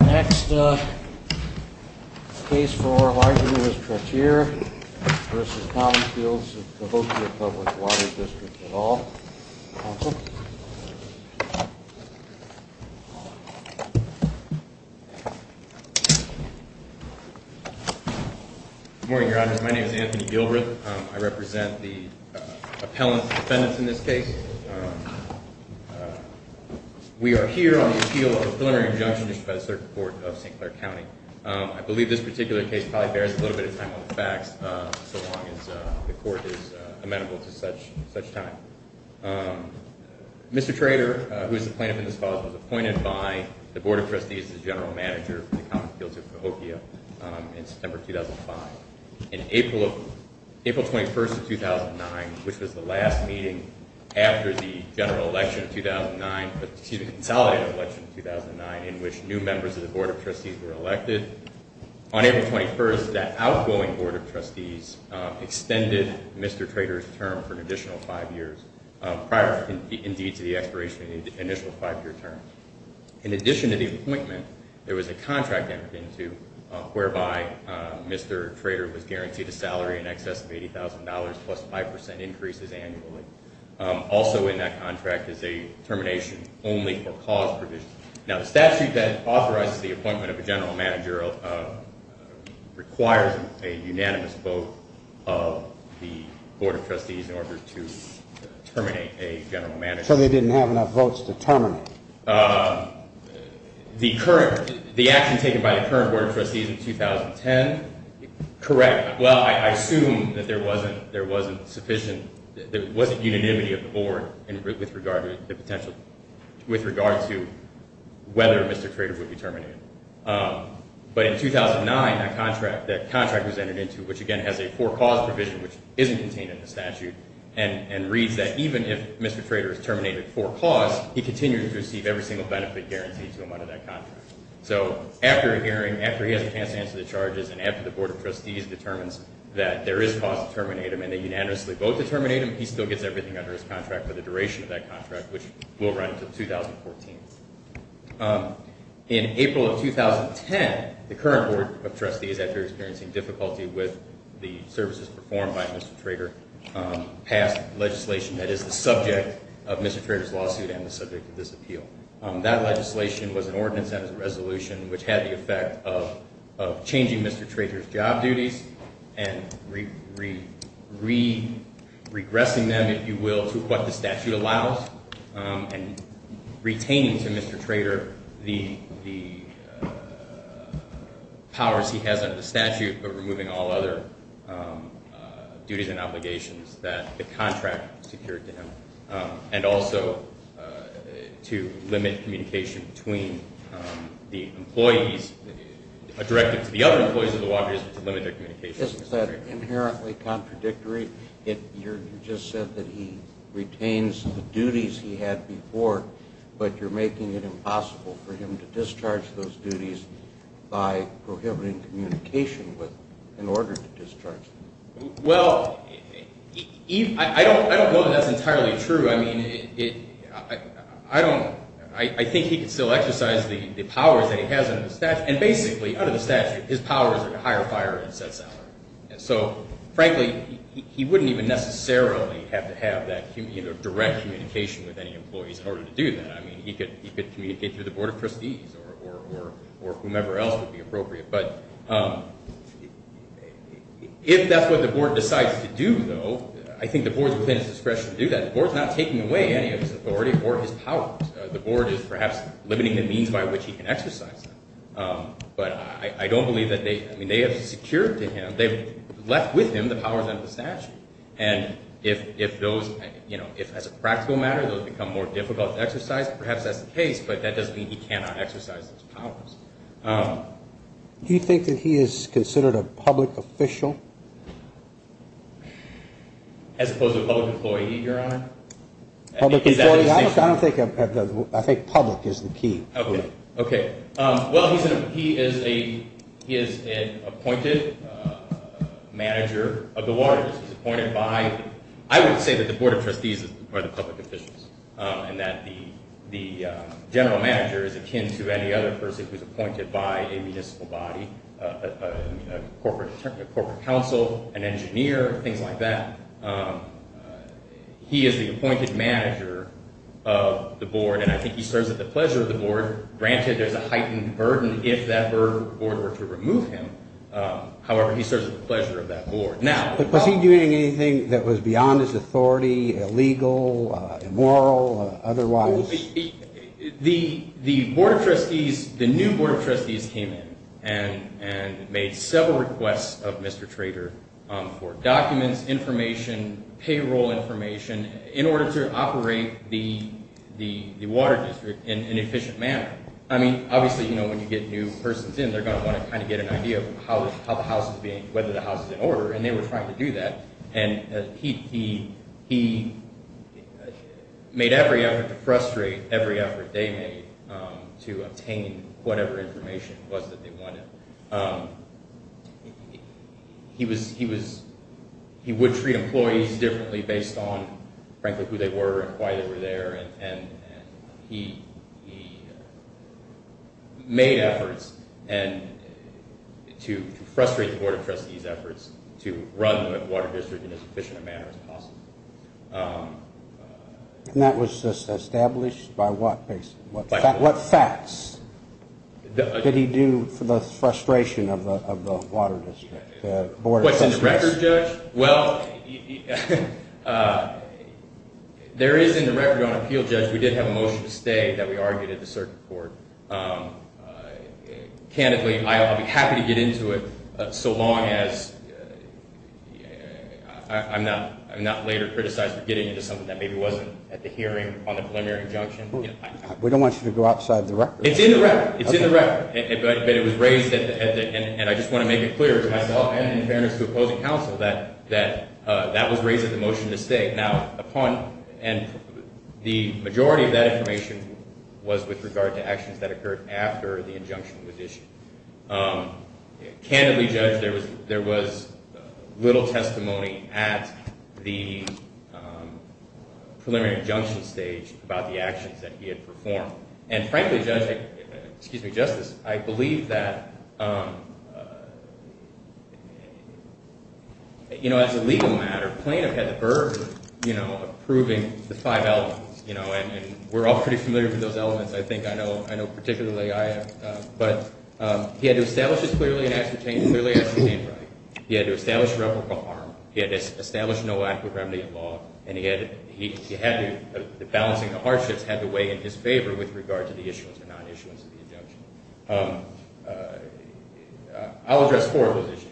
Next case for argument is Traiteur v. Commonfields of Cahokia Public Water District at all. Counsel. Good morning, Your Honors. My name is Anthony Gilbreth. I represent the appellant's defendants in this case. We are here on the appeal of a preliminary injunction issued by the Circuit Court of St. Clair County. I believe this particular case probably bears a little bit of time on the facts, so long as the court is amenable to such time. Mr. Traiteur, who is the plaintiff in this cause, was appointed by the Board of Trustees as General Manager for the Commonfields of Cahokia in September 2005. On April 21, 2009, which was the last meeting after the consolidated election of 2009 in which new members of the Board of Trustees were elected, on April 21, that outgoing Board of Trustees extended Mr. Traiteur's term for an additional five years, prior indeed to the expiration of the initial five-year term. In addition to the appointment, there was a contract entered into whereby Mr. Traiteur was guaranteed a salary in excess of $80,000 plus 5% increases annually. Also in that contract is a termination only for cause provisions. Now the statute that authorizes the appointment of a General Manager requires a unanimous vote of the Board of Trustees in order to terminate a General Manager. So they didn't have enough votes to terminate? The action taken by the current Board of Trustees in 2010, correct. Well, I assume that there wasn't sufficient, there wasn't unanimity of the Board with regard to the potential, with regard to whether Mr. Traiteur would be terminated. But in 2009, that contract was entered into, which again has a for-cause provision which isn't contained in the statute, and reads that even if Mr. Traiteur is terminated for cause, he continues to receive every single benefit guaranteed to him under that contract. So after a hearing, after he has a chance to answer the charges, and after the Board of Trustees determines that there is cause to terminate him and they unanimously vote to terminate him, he still gets everything under his contract for the duration of that contract, which will run until 2014. In April of 2010, the current Board of Trustees, after experiencing difficulty with the services performed by Mr. Traiteur, passed legislation that is the subject of Mr. Traiteur's lawsuit and the subject of this appeal. That legislation was an ordinance and a resolution which had the effect of changing Mr. Traiteur's job duties and re-regressing them, if you will, to what the statute allows, and retaining to Mr. Traiteur the powers he has under the statute, but removing all other duties and obligations that the contract secured to him, and also to limit communication between the employees, directed to the other employees of the law business, to limit their communication with Mr. Traiteur. That's very inherently contradictory. You just said that he retains the duties he had before, but you're making it impossible for him to discharge those duties by prohibiting communication in order to discharge them. Well, I don't know that that's entirely true. I mean, I think he could still exercise the powers that he has under the statute, and basically, under the statute, his powers are to hire, fire, and set salary. And so, frankly, he wouldn't even necessarily have to have that direct communication with any employees in order to do that. I mean, he could communicate through the board of trustees or whomever else would be appropriate. But if that's what the board decides to do, though, I think the board's within its discretion to do that. The board's not taking away any of his authority or his powers. The board is perhaps limiting the means by which he can exercise them. But I don't believe that they – I mean, they have secured to him – they've left with him the powers under the statute. And if those – you know, if, as a practical matter, those become more difficult to exercise, perhaps that's the case, but that doesn't mean he cannot exercise those powers. Do you think that he is considered a public official? As opposed to a public employee, Your Honor? I don't think – I think public is the key. Okay. Okay. Well, he is an appointed manager of the waters. He's appointed by – I would say that the board of trustees are the public officials and that the general manager is akin to any other person who's appointed by a municipal body, a corporate council, an engineer, things like that. He is the appointed manager of the board, and I think he serves at the pleasure of the board. Granted, there's a heightened burden if that board were to remove him. However, he serves at the pleasure of that board. Now – Was he doing anything that was beyond his authority, illegal, immoral, otherwise? The board of trustees – the new board of trustees came in and made several requests of Mr. Trader for documents, information, payroll information, in order to operate the water district in an efficient manner. I mean, obviously, you know, when you get new persons in, they're going to want to kind of get an idea of how the house is being – whether the house is in order, and they were trying to do that. And he made every effort to frustrate every effort they made to obtain whatever information it was that they wanted. He was – he would treat employees differently based on, frankly, who they were and why they were there, and he made efforts to frustrate the board of trustees' efforts to run the water district in as efficient a manner as possible. And that was established by what – what facts did he do for the frustration of the water district, the board of trustees? Well, there is in the record on appeal, Judge, we did have a motion to stay that we argued at the circuit court. Candidly, I'll be happy to get into it so long as – I'm not later criticized for getting into something that maybe wasn't at the hearing on the preliminary injunction. We don't want you to go outside the record. It's in the record. It's in the record. Okay. I want to make it clear to myself and in fairness to opposing counsel that that was raised at the motion to stay. Now, upon – and the majority of that information was with regard to actions that occurred after the injunction was issued. Candidly, Judge, there was little testimony at the preliminary injunction stage about the actions that he had performed. And frankly, Judge – excuse me, Justice, I believe that, you know, as a legal matter, Plaintiff had the burden of proving the five elements. And we're all pretty familiar with those elements, I think. I know particularly I am. But he had to establish a clearly ascertained right. He had to establish reputable harm. He had to establish no lack of remedy in law. And he had to – balancing the hardships had to weigh in his favor with regard to the issuance or non-issuance of the injunction. I'll address four of those issues.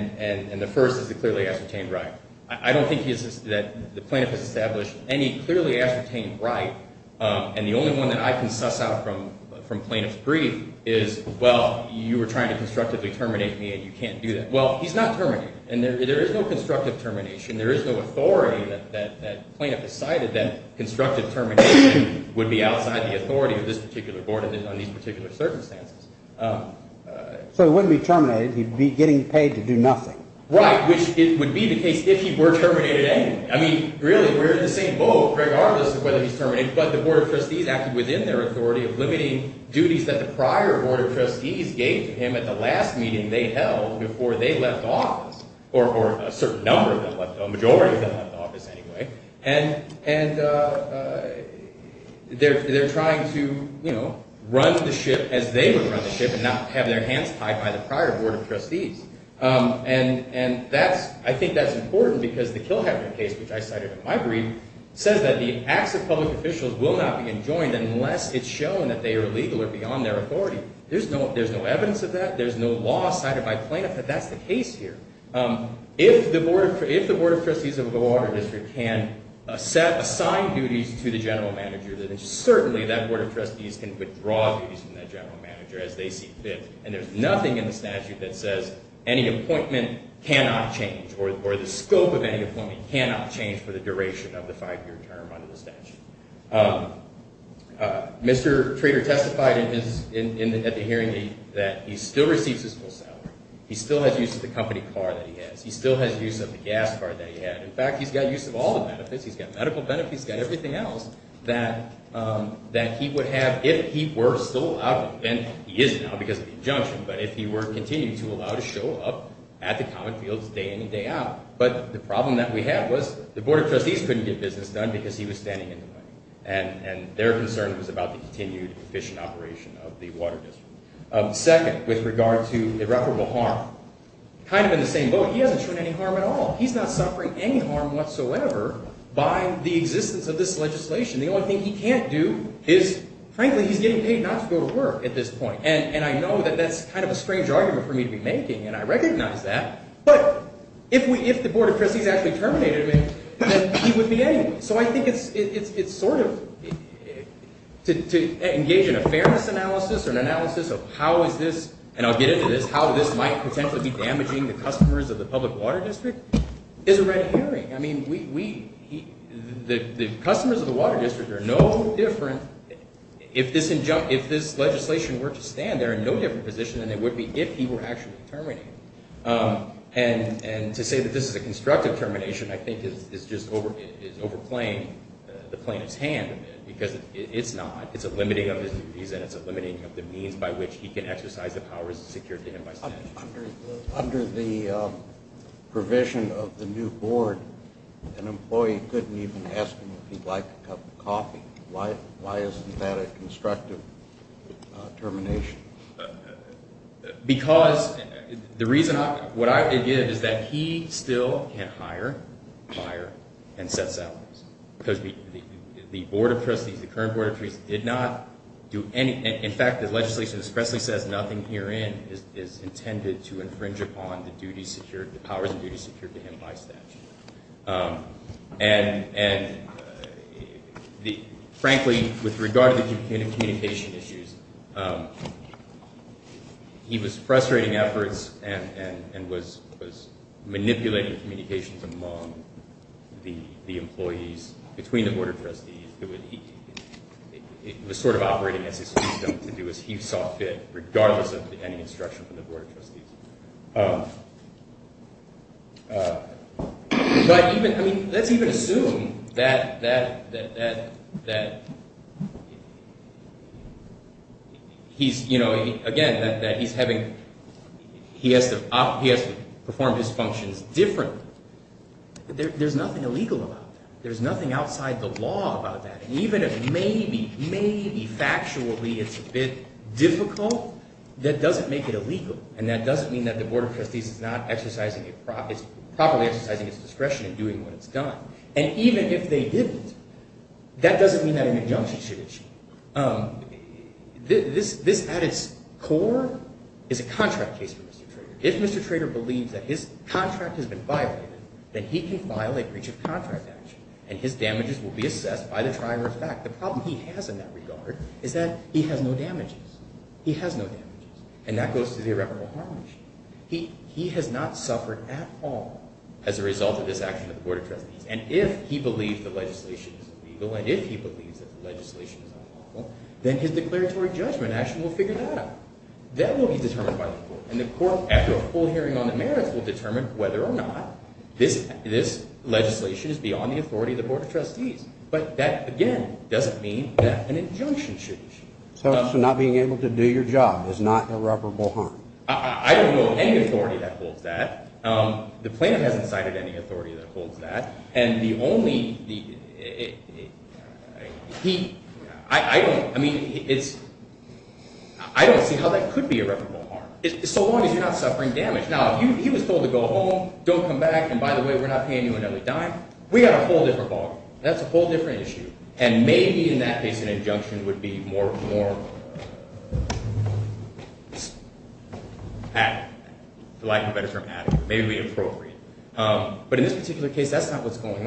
And the first is the clearly ascertained right. I don't think that the plaintiff has established any clearly ascertained right. And the only one that I can suss out from plaintiff's brief is, well, you were trying to constructively terminate me and you can't do that. Well, he's not terminating. And there is no constructive termination. There is no authority that plaintiff has cited that constructive termination would be outside the authority of this particular board on these particular circumstances. So he wouldn't be terminated. He'd be getting paid to do nothing. Right, which would be the case if he were terminated anyway. I mean, really, we're in the same boat regardless of whether he's terminated. But the Board of Trustees acted within their authority of limiting duties that the prior Board of Trustees gave to him at the last meeting they held before they left office, or a certain number of them left, a majority of them left office anyway. And they're trying to, you know, run the ship as they would run the ship and not have their hands tied by the prior Board of Trustees. And I think that's important because the Kilhabert case, which I cited in my brief, says that the acts of public officials will not be enjoined unless it's shown that they are illegal or beyond their authority. There's no evidence of that. There's no law cited by plaintiff that that's the case here. If the Board of Trustees of the Water District can assign duties to the general manager, then certainly that Board of Trustees can withdraw duties from that general manager as they see fit. And there's nothing in the statute that says any appointment cannot change or the scope of any appointment cannot change for the duration of the five-year term under the statute. Mr. Trader testified at the hearing that he still receives his full salary. He still has use of the company car that he has. He still has use of the gas car that he had. In fact, he's got use of all the benefits. He's got medical benefits. He's got everything else that he would have if he were still out. And he is now because of the injunction. But if he were to continue to allow to show up at the common fields day in and day out. But the problem that we had was the Board of Trustees couldn't get business done because he was standing in the way. And their concern was about the continued efficient operation of the Water District. Second, with regard to irreparable harm, kind of in the same boat, he hasn't shown any harm at all. He's not suffering any harm whatsoever by the existence of this legislation. The only thing he can't do is, frankly, he's getting paid not to go to work at this point. And I know that that's kind of a strange argument for me to be making, and I recognize that. But if the Board of Trustees actually terminated him, then he would be anyway. So I think it's sort of to engage in a fairness analysis or an analysis of how is this, and I'll get into this, how this might potentially be damaging the customers of the public water district is a red herring. I mean, the customers of the Water District are no different. If this legislation were to stand, they're in no different position than they would be if he were actually terminated. And to say that this is a constructive termination I think is just overplaying the plaintiff's hand, because it's not. It's a limiting of his duties and it's a limiting of the means by which he can exercise the powers secured to him by statute. Under the provision of the new board, an employee couldn't even ask him if he'd like a cup of coffee. Why isn't that a constructive termination? Because the reason I, what I, again, is that he still can't hire, fire, and set salaries. Because the Board of Trustees, the current Board of Trustees did not do any, in fact the legislation expressly says nothing herein is intended to infringe upon the duties secured, the powers and duties secured to him by statute. And frankly, with regard to the communication issues, he was frustrating efforts and was manipulating communications among the employees between the Board of Trustees. It was sort of operating as his system to do as he saw fit, regardless of any instruction from the Board of Trustees. But even, I mean, let's even assume that he's, you know, again, that he's having, he has to perform his functions differently. There's nothing illegal about that. There's nothing outside the law about that. And even if maybe, maybe factually it's a bit difficult, that doesn't make it illegal. And that doesn't mean that the Board of Trustees is not exercising, properly exercising its discretion in doing what it's done. And even if they didn't, that doesn't mean that an injunction should be achieved. This, at its core, is a contract case for Mr. Trader. If Mr. Trader believes that his contract has been violated, then he can file a breach of contract action. And his damages will be assessed by the tribe or his back. The problem he has in that regard is that he has no damages. He has no damages. And that goes to the irreparable harm issue. He has not suffered at all as a result of this action of the Board of Trustees. And if he believes the legislation is illegal, and if he believes that the legislation is unlawful, then his declaratory judgment action will figure that out. That will be determined by the court. And the court, after a full hearing on the merits, will determine whether or not this legislation is beyond the authority of the Board of Trustees. But that, again, doesn't mean that an injunction should be achieved. So not being able to do your job is not irreparable harm? I don't know of any authority that holds that. The plaintiff hasn't cited any authority that holds that. And the only, the, he, I don't, I mean, it's, I don't see how that could be irreparable harm. So long as you're not suffering damage. Now, if he was told to go home, don't come back, and by the way, we're not paying you another dime, we've got a whole different ballgame. That's a whole different issue. And maybe in that case an injunction would be more, more adequate. I like the better term, adequate. Maybe it would be appropriate. But in this particular case, that's not what's going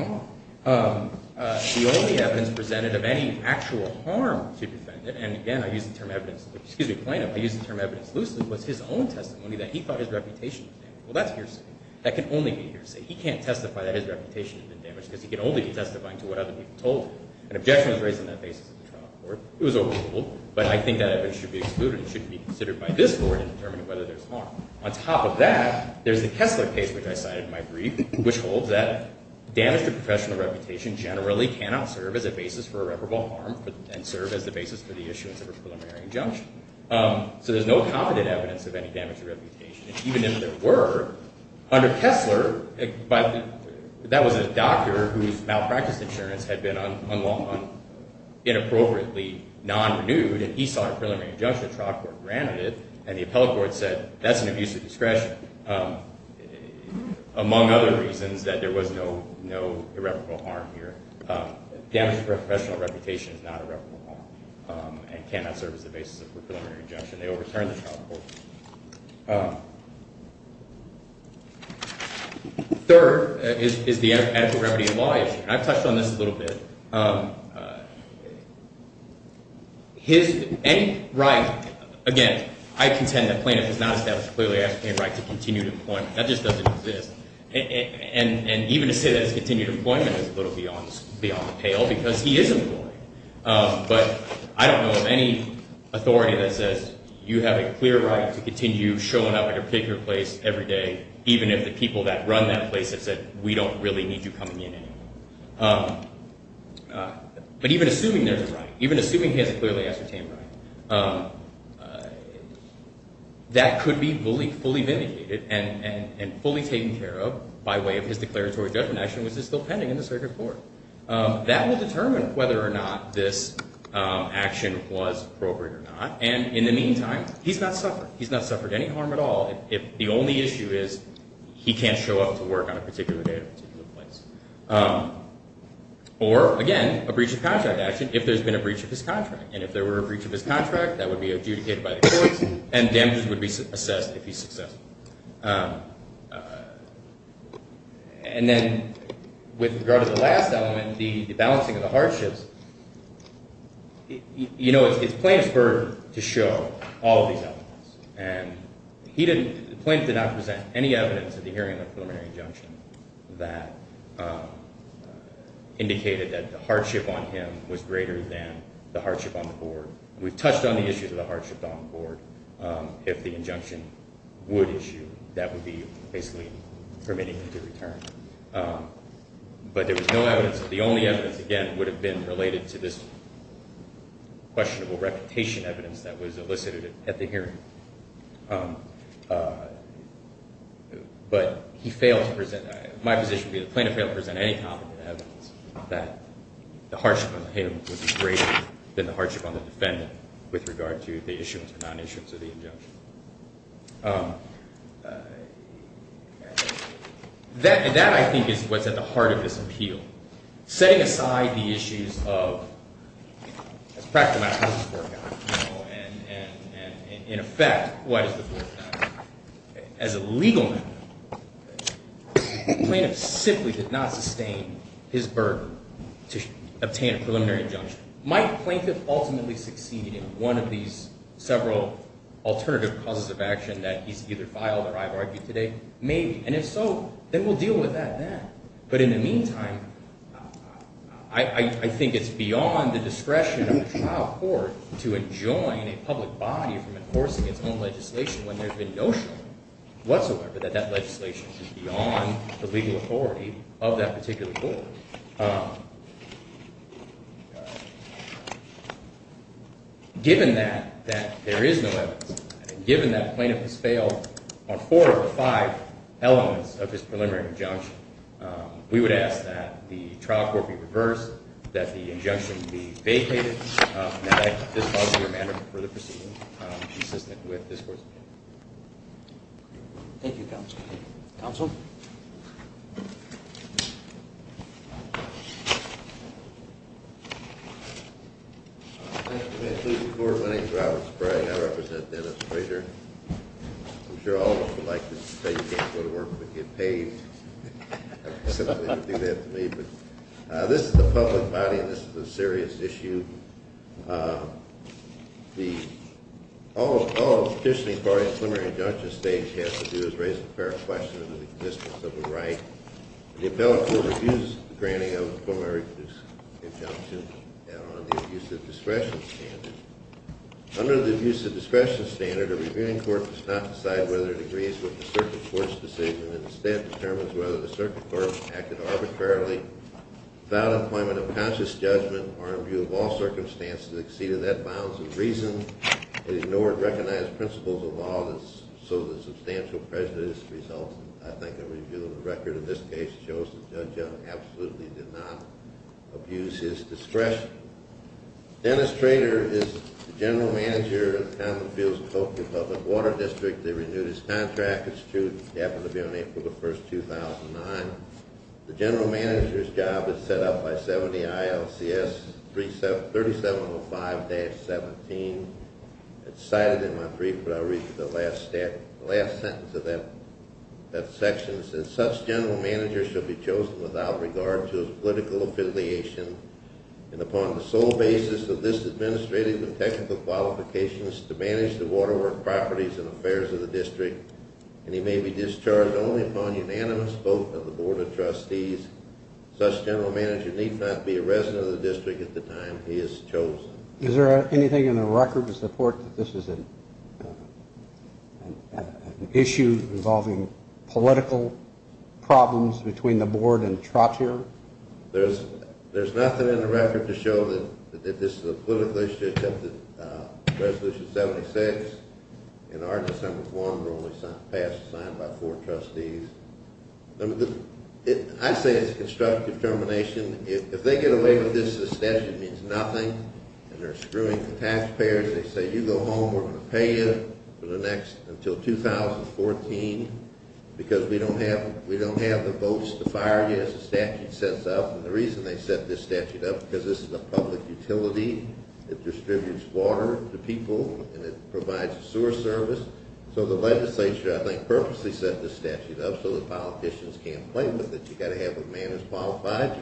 on. The only evidence presented of any actual harm to the defendant, and again, I use the term evidence, excuse me, plaintiff, I use the term evidence loosely, was his own testimony that he thought his reputation was damaged. Well, that's hearsay. That can only be hearsay. He can't testify that his reputation has been damaged because he can only be testifying to what other people told him. An objection was raised on that basis in the trial court. It was overruled. But I think that evidence should be excluded and should be considered by this court in determining whether there's harm. On top of that, there's the Kessler case, which I cited in my brief, which holds that damage to professional reputation generally cannot serve as a basis for irreparable harm and serve as the basis for the issuance of a preliminary injunction. So there's no confident evidence of any damage to reputation. And even if there were, under Kessler, that was a doctor whose malpractice insurance had been unlawful, inappropriately non-renewed, and he saw a preliminary injunction, the trial court granted it, and the appellate court said that's an abuse of discretion, among other reasons that there was no irreparable harm here. Damage to professional reputation is not irreparable harm and cannot serve as the basis of a preliminary injunction. They overturned the trial court. Third is the adequate remedy in law issue. And I've touched on this a little bit. Any right, again, I contend that plaintiff has not established clearly a right to continued employment. That just doesn't exist. And even to say that it's continued employment is a little beyond the pale because he is employed. But I don't know of any authority that says you have a clear right to continue showing up at your particular place every day, even if the people that run that place have said we don't really need you coming in anymore. But even assuming there's a right, even assuming he has a clearly ascertained right, that could be fully vindicated and fully taken care of by way of his declaratory judgment action, which is still pending in the circuit court. That will determine whether or not this action was appropriate or not. And in the meantime, he's not suffered. He's not suffered any harm at all if the only issue is he can't show up to work on a particular day at a particular place. Or, again, a breach of contract action if there's been a breach of his contract. And if there were a breach of his contract, that would be adjudicated by the courts, and damages would be assessed if he's successful. And then with regard to the last element, the balancing of the hardships, you know, it's plaintiff's burden to show all of these elements. And the plaintiff did not present any evidence at the hearing of preliminary injunction that indicated that the hardship on him was greater than the hardship on the board. We've touched on the issues of the hardship on the board. If the injunction would issue, that would be basically permitting him to return. But there was no evidence. The only evidence, again, would have been related to this questionable reputation evidence that was elicited at the hearing. But he failed to present, my position would be the plaintiff failed to present any competent evidence that the hardship on him was greater than the hardship on the defendant with regard to the issuance or non-issuance of the injunction. That, I think, is what's at the heart of this appeal. Setting aside the issues of, as a practical matter, you know, and in effect, as a legal matter, the plaintiff simply did not sustain his burden to obtain a preliminary injunction. Might the plaintiff ultimately succeed in one of these several alternative causes of action that he's either filed or I've argued today? Maybe. And if so, then we'll deal with that then. But in the meantime, I think it's beyond the discretion of the trial court to enjoin a public body from enforcing its own legislation when there's been no show whatsoever that that legislation is beyond the legal authority of that particular court. Given that there is no evidence, and given that plaintiff has failed on four of the five elements of his preliminary injunction, we would ask that the trial court be reversed, that the injunction be vacated, and that I, in this positive manner, prefer the proceeding consistent with this court's opinion. Thank you, counsel. Counsel? Thank you, Mr. Court. My name is Robert Sprague. I represent Dennis Frazier. I'm sure all of us would like to say you can't go to work but get paid. Simply to do that to me. This is a public body and this is a serious issue. All a petitioning court in a preliminary injunction stage has to do is raise a fair question of the existence of a right. The appellate court reviews the granting of the preliminary injunction on the abuse of discretion standard. Under the abuse of discretion standard, a reviewing court does not decide whether it agrees with the circuit court's decision and instead determines whether the circuit court acted arbitrarily without appointment of conscious judgment or in view of all circumstances exceeding that bounds of reason and ignored recognized principles of law so the substantial prejudice results in, I think, a review of the record. In this case, it shows the judge absolutely did not abuse his discretion. Dennis Frazier is the general manager of the Commonfields Coast Republic Water District. They renewed his contract. It happened to be on April 1, 2009. The general manager's job is set up by 70 ILCS 3705-17. It's cited in my brief, but I'll read you the last sentence of that section. It says, such general manager shall be chosen without regard to his political affiliation and upon the sole basis of this administrative and technical qualifications and he may be discharged only upon unanimous vote of the board of trustees. Such general manager need not be a resident of the district at the time he is chosen. Is there anything in the record to support that this is an issue involving political problems between the board and Trottier? There's nothing in the record to show that this is a political issue except that the resolution 76 and our December 1 were only passed and signed by four trustees. I say it's constructive determination. If they get away with this, the statute means nothing, and they're screwing the taxpayers. They say, you go home, we're going to pay you until 2014 because we don't have the votes to fire you as the statute sets up. And the reason they set this statute up is because this is a public utility that distributes water to people and it provides a sewer service. So the legislature, I think, purposely set this statute up so that politicians can't play with it. You've got to have a man who's qualified.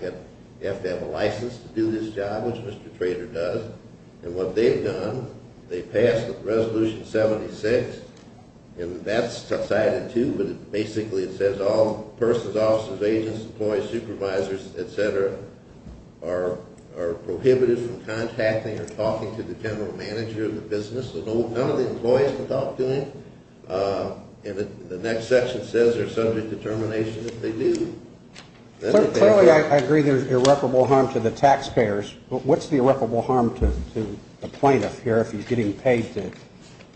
You have to have a license to do this job, which Mr. Trader does. And what they've done, they passed Resolution 76 and that's cited too, but basically it says all persons, officers, agents, employees, supervisors, etc. are prohibited from contacting or talking to the general manager of the business. None of the employees can talk to him. And the next section says they're subject to termination if they do. Clearly I agree there's irreparable harm to the taxpayers, but what's the irreparable harm to the plaintiff here if he's getting paid to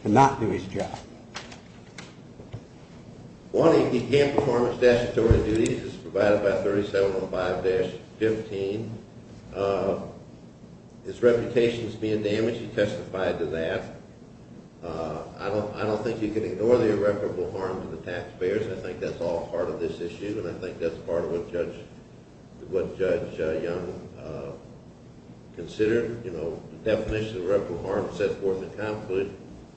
not do his job? One, he can't perform his statutory duties. It's provided by 3705-15. His reputation is being damaged. He testified to that. I don't think you can ignore the irreparable harm to the taxpayers. I think that's all part of this issue and I think that's part of what Judge Young considered. The definition of irreparable harm is set forth in the Conflict.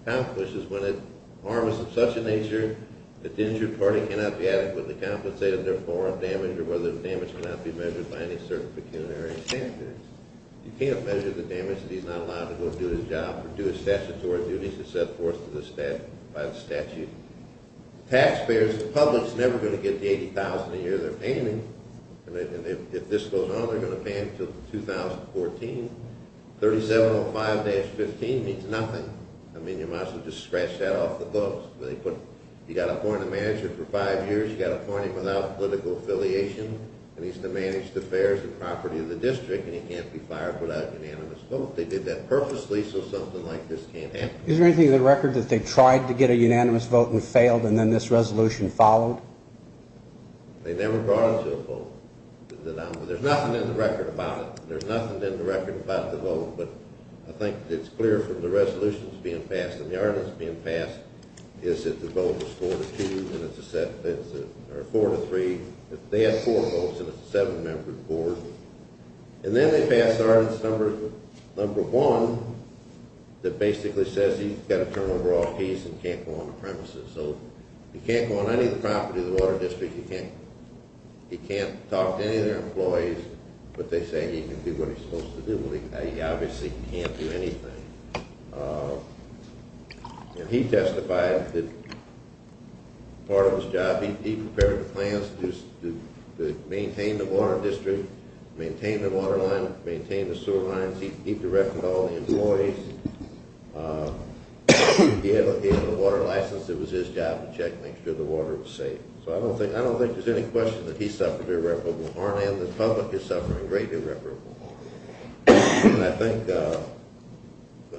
Conflict is when a harm is of such a nature that the injured party cannot be adequately compensated, therefore a damage or whether the damage cannot be measured by any certain pecuniary standards. You can't measure the damage if he's not allowed to go do his job or do his statutory duties as set forth by the statute. Taxpayers, the public's never going to get the $80,000 a year they're paying. And if this goes on, they're going to pay until 2014. 3705-15 means nothing. I mean, you might as well just scratch that off the books. You've got to appoint a manager for five years. You've got to appoint him without political affiliation. He needs to manage the affairs and property of the district and he can't be fired without a unanimous vote. They did that purposely so something like this can't happen. Is there anything in the record that they tried to get a unanimous vote and failed and then this resolution followed? They never brought it to a vote. There's nothing in the record about it. There's nothing in the record about the vote, but I think it's clear from the resolutions being passed and the ordinance being passed is that the vote is four to three. They had four votes and it's a seven-member board. And then they passed ordinance number one that basically says he's got to turn over all keys and can't go on the premises. So he can't go on any of the property of the water district. He can't talk to any of their employees, but they say he can do what he's supposed to do. Well, he obviously can't do anything. And he testified that part of his job, he prepared the plans to maintain the water district, maintain the water line, maintain the sewer lines. He directed all the employees. He had a water license. It was his job to check and make sure the water was safe. So I don't think there's any question that he suffered. And the public is suffering great irreparable harm. And I think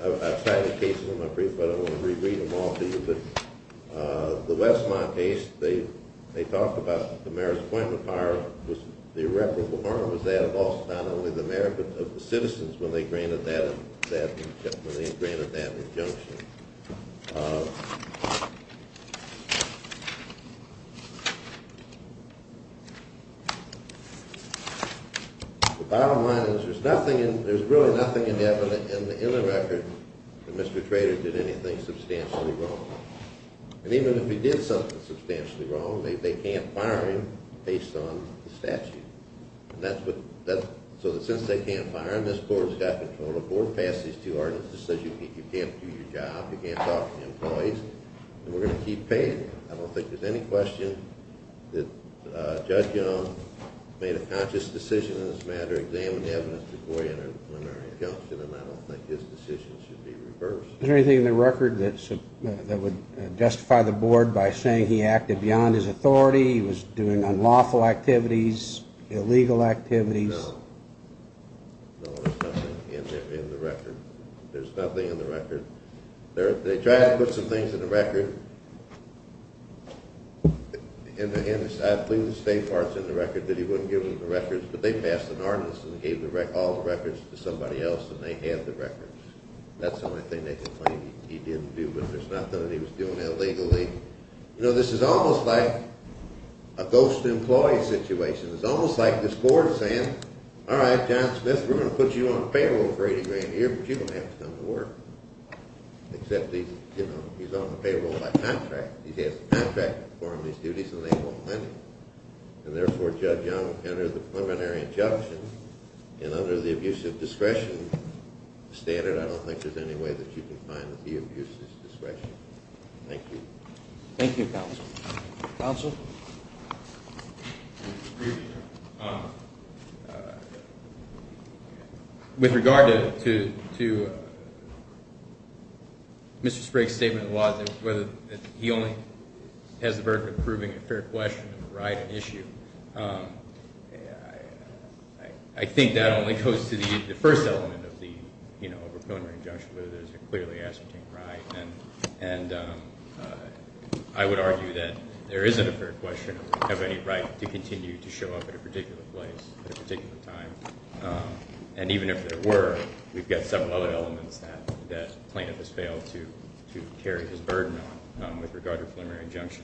I've cited cases in my brief. I don't want to reread them all to you, but the Westmont case, they talked about the mayor's appointment power. The irreparable harm was that of not only the mayor, but of the citizens when they granted that injunction. The bottom line is there's really nothing in the record that Mr. Trader did anything substantially wrong. And even if he did something substantially wrong, they can't fire him based on the statute. So since they can't fire him, this court has got control. The court passed these two ordinances. It says you can't do your job, you can't talk to employees, and we're going to keep paying you. I don't think there's any question that Judge Young made a conscious decision in this matter, examined the evidence before he entered the preliminary injunction, and I don't think his decision should be reversed. Is there anything in the record that would justify the board by saying he acted beyond his authority, he was doing unlawful activities, illegal activities? No. No, there's nothing in the record. There's nothing in the record. They tried to put some things in the record. I believe the State Department's in the record that he wouldn't give them the records, but they passed an ordinance and gave all the records to somebody else and they have the records. That's the only thing they can claim he didn't do, but there's nothing that he was doing illegally. You know, this is almost like a ghost employee situation. It's almost like this board is saying, except he's on the payroll by contract. He has the contract to perform his duties and they won't let him. And therefore, Judge Young entered the preliminary injunction and under the abuse of discretion standard, I don't think there's any way that you can find that he abused his discretion. Thank you. Thank you, Counsel. Counsel? With regard to Mr. Sprague's statement of the laws, whether he only has the burden of proving a fair question of the right and issue, I think that only goes to the first element of the preliminary injunction, whether there's a clearly ascertained right. And I would argue that there isn't a fair question of any right to continue to show up at a particular place at a particular time. And even if there were, we've got several other elements that plaintiff has failed to carry his burden on with regard to preliminary injunction.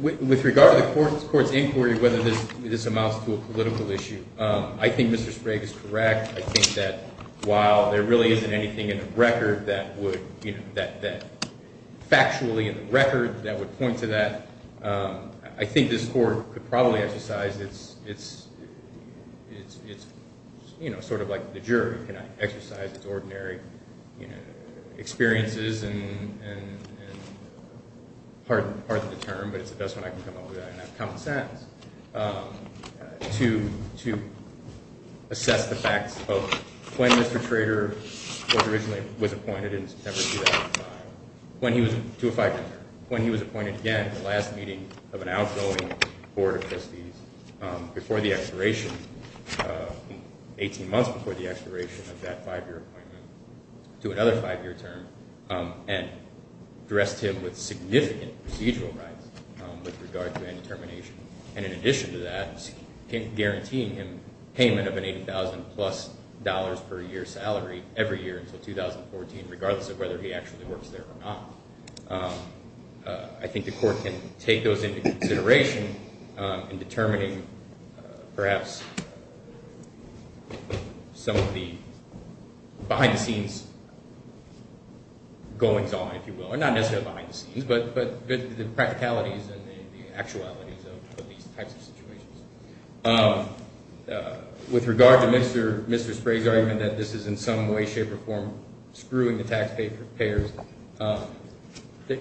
With regard to the Court's inquiry, whether this amounts to a political issue, I think Mr. Sprague is correct. I think that while there really isn't anything in the record that would, you know, that factually in the record that would point to that, I think this Court could probably exercise its, you know, sort of like the jury can exercise its ordinary, you know, experiences and pardon the term, but it's the best one I can come up with, I don't have common sense, to assess the facts of when Mr. Trader was originally appointed in September 2005, to a five-year term, when he was appointed again at the last meeting of an outgoing Board of Trustees before the expiration, 18 months before the expiration of that five-year appointment, to another five-year term, and addressed him with significant procedural rights with regard to indetermination. And in addition to that, guaranteeing him payment of an $80,000-plus per year salary every year until 2014, regardless of whether he actually works there or not. I think the Court can take those into consideration in determining perhaps some of the behind-the-scenes goings-on, if you will. Well, not necessarily behind-the-scenes, but the practicalities and the actualities of these types of situations. With regard to Mr. Sprague's argument that this is in some way, shape, or form screwing the taxpayers,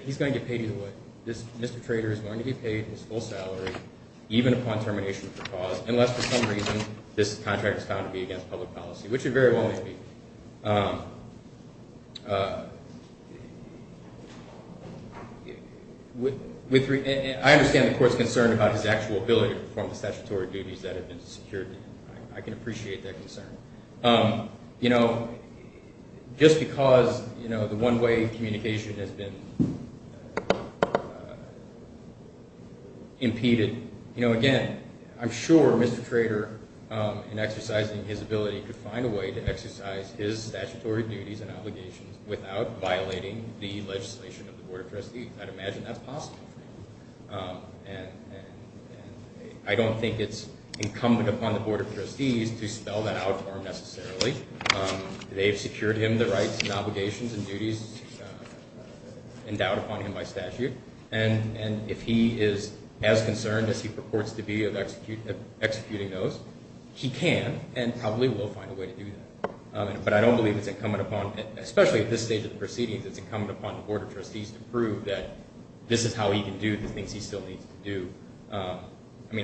he's going to get paid either way. Mr. Trader is going to get paid his full salary, even upon termination of the clause, unless for some reason this contract is found to be against public policy, which it very well may be. I understand the Court's concern about his actual ability to perform the statutory duties that have been secured to him. I can appreciate that concern. Just because the one-way communication has been impeded, I'm sure Mr. Trader, in exercising his ability, could find a way to exercise his statutory duties and obligations without violating the legislation of the Board of Trustees. I'd imagine that's possible. I don't think it's incumbent upon the Board of Trustees to spell that out necessarily. They've secured him the rights and obligations and duties endowed upon him by statute. If he is as concerned as he purports to be of executing those, he can and probably will find a way to do that. But I don't believe it's incumbent upon, especially at this stage of the proceedings, it's incumbent upon the Board of Trustees to prove that this is how he can do the things he still needs to do.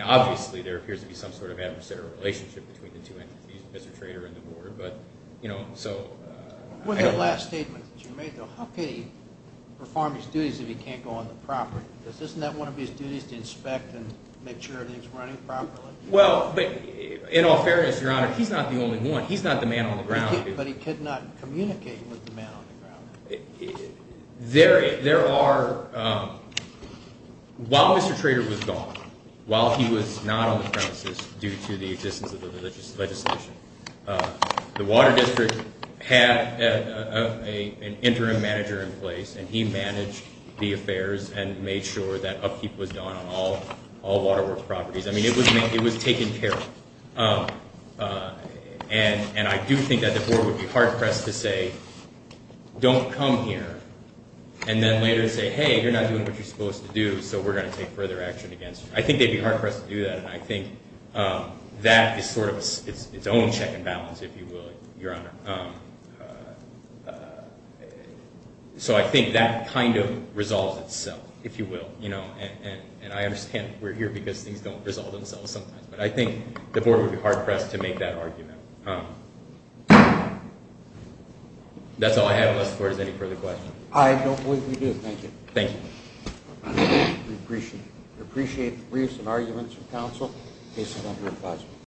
Obviously, there appears to be some sort of adversarial relationship between the two entities, Mr. Trader and the Board. With that last statement that you made, how could he perform his duties if he can't go on the property? Isn't that one of his duties, to inspect and make sure everything's running properly? Well, in all fairness, Your Honor, he's not the only one. He's not the man on the ground. But he could not communicate with the man on the ground. There are – while Mr. Trader was gone, while he was not on the premises due to the existence of the religious legislation, the Water District had an interim manager in place, and he managed the affairs and made sure that upkeep was done on all Water Works properties. I mean, it was taken care of. And I do think that the Board would be hard-pressed to say, don't come here, and then later say, hey, you're not doing what you're supposed to do, so we're going to take further action against you. I think they'd be hard-pressed to do that, and I think that is sort of its own check and balance, if you will, Your Honor. So I think that kind of resolves itself, if you will. And I understand we're here because things don't resolve themselves sometimes. But I think the Board would be hard-pressed to make that argument. That's all I have, unless the Board has any further questions. I don't believe we do. Thank you. Thank you. We appreciate it. We appreciate the briefs and arguments from counsel. Case is under advisement.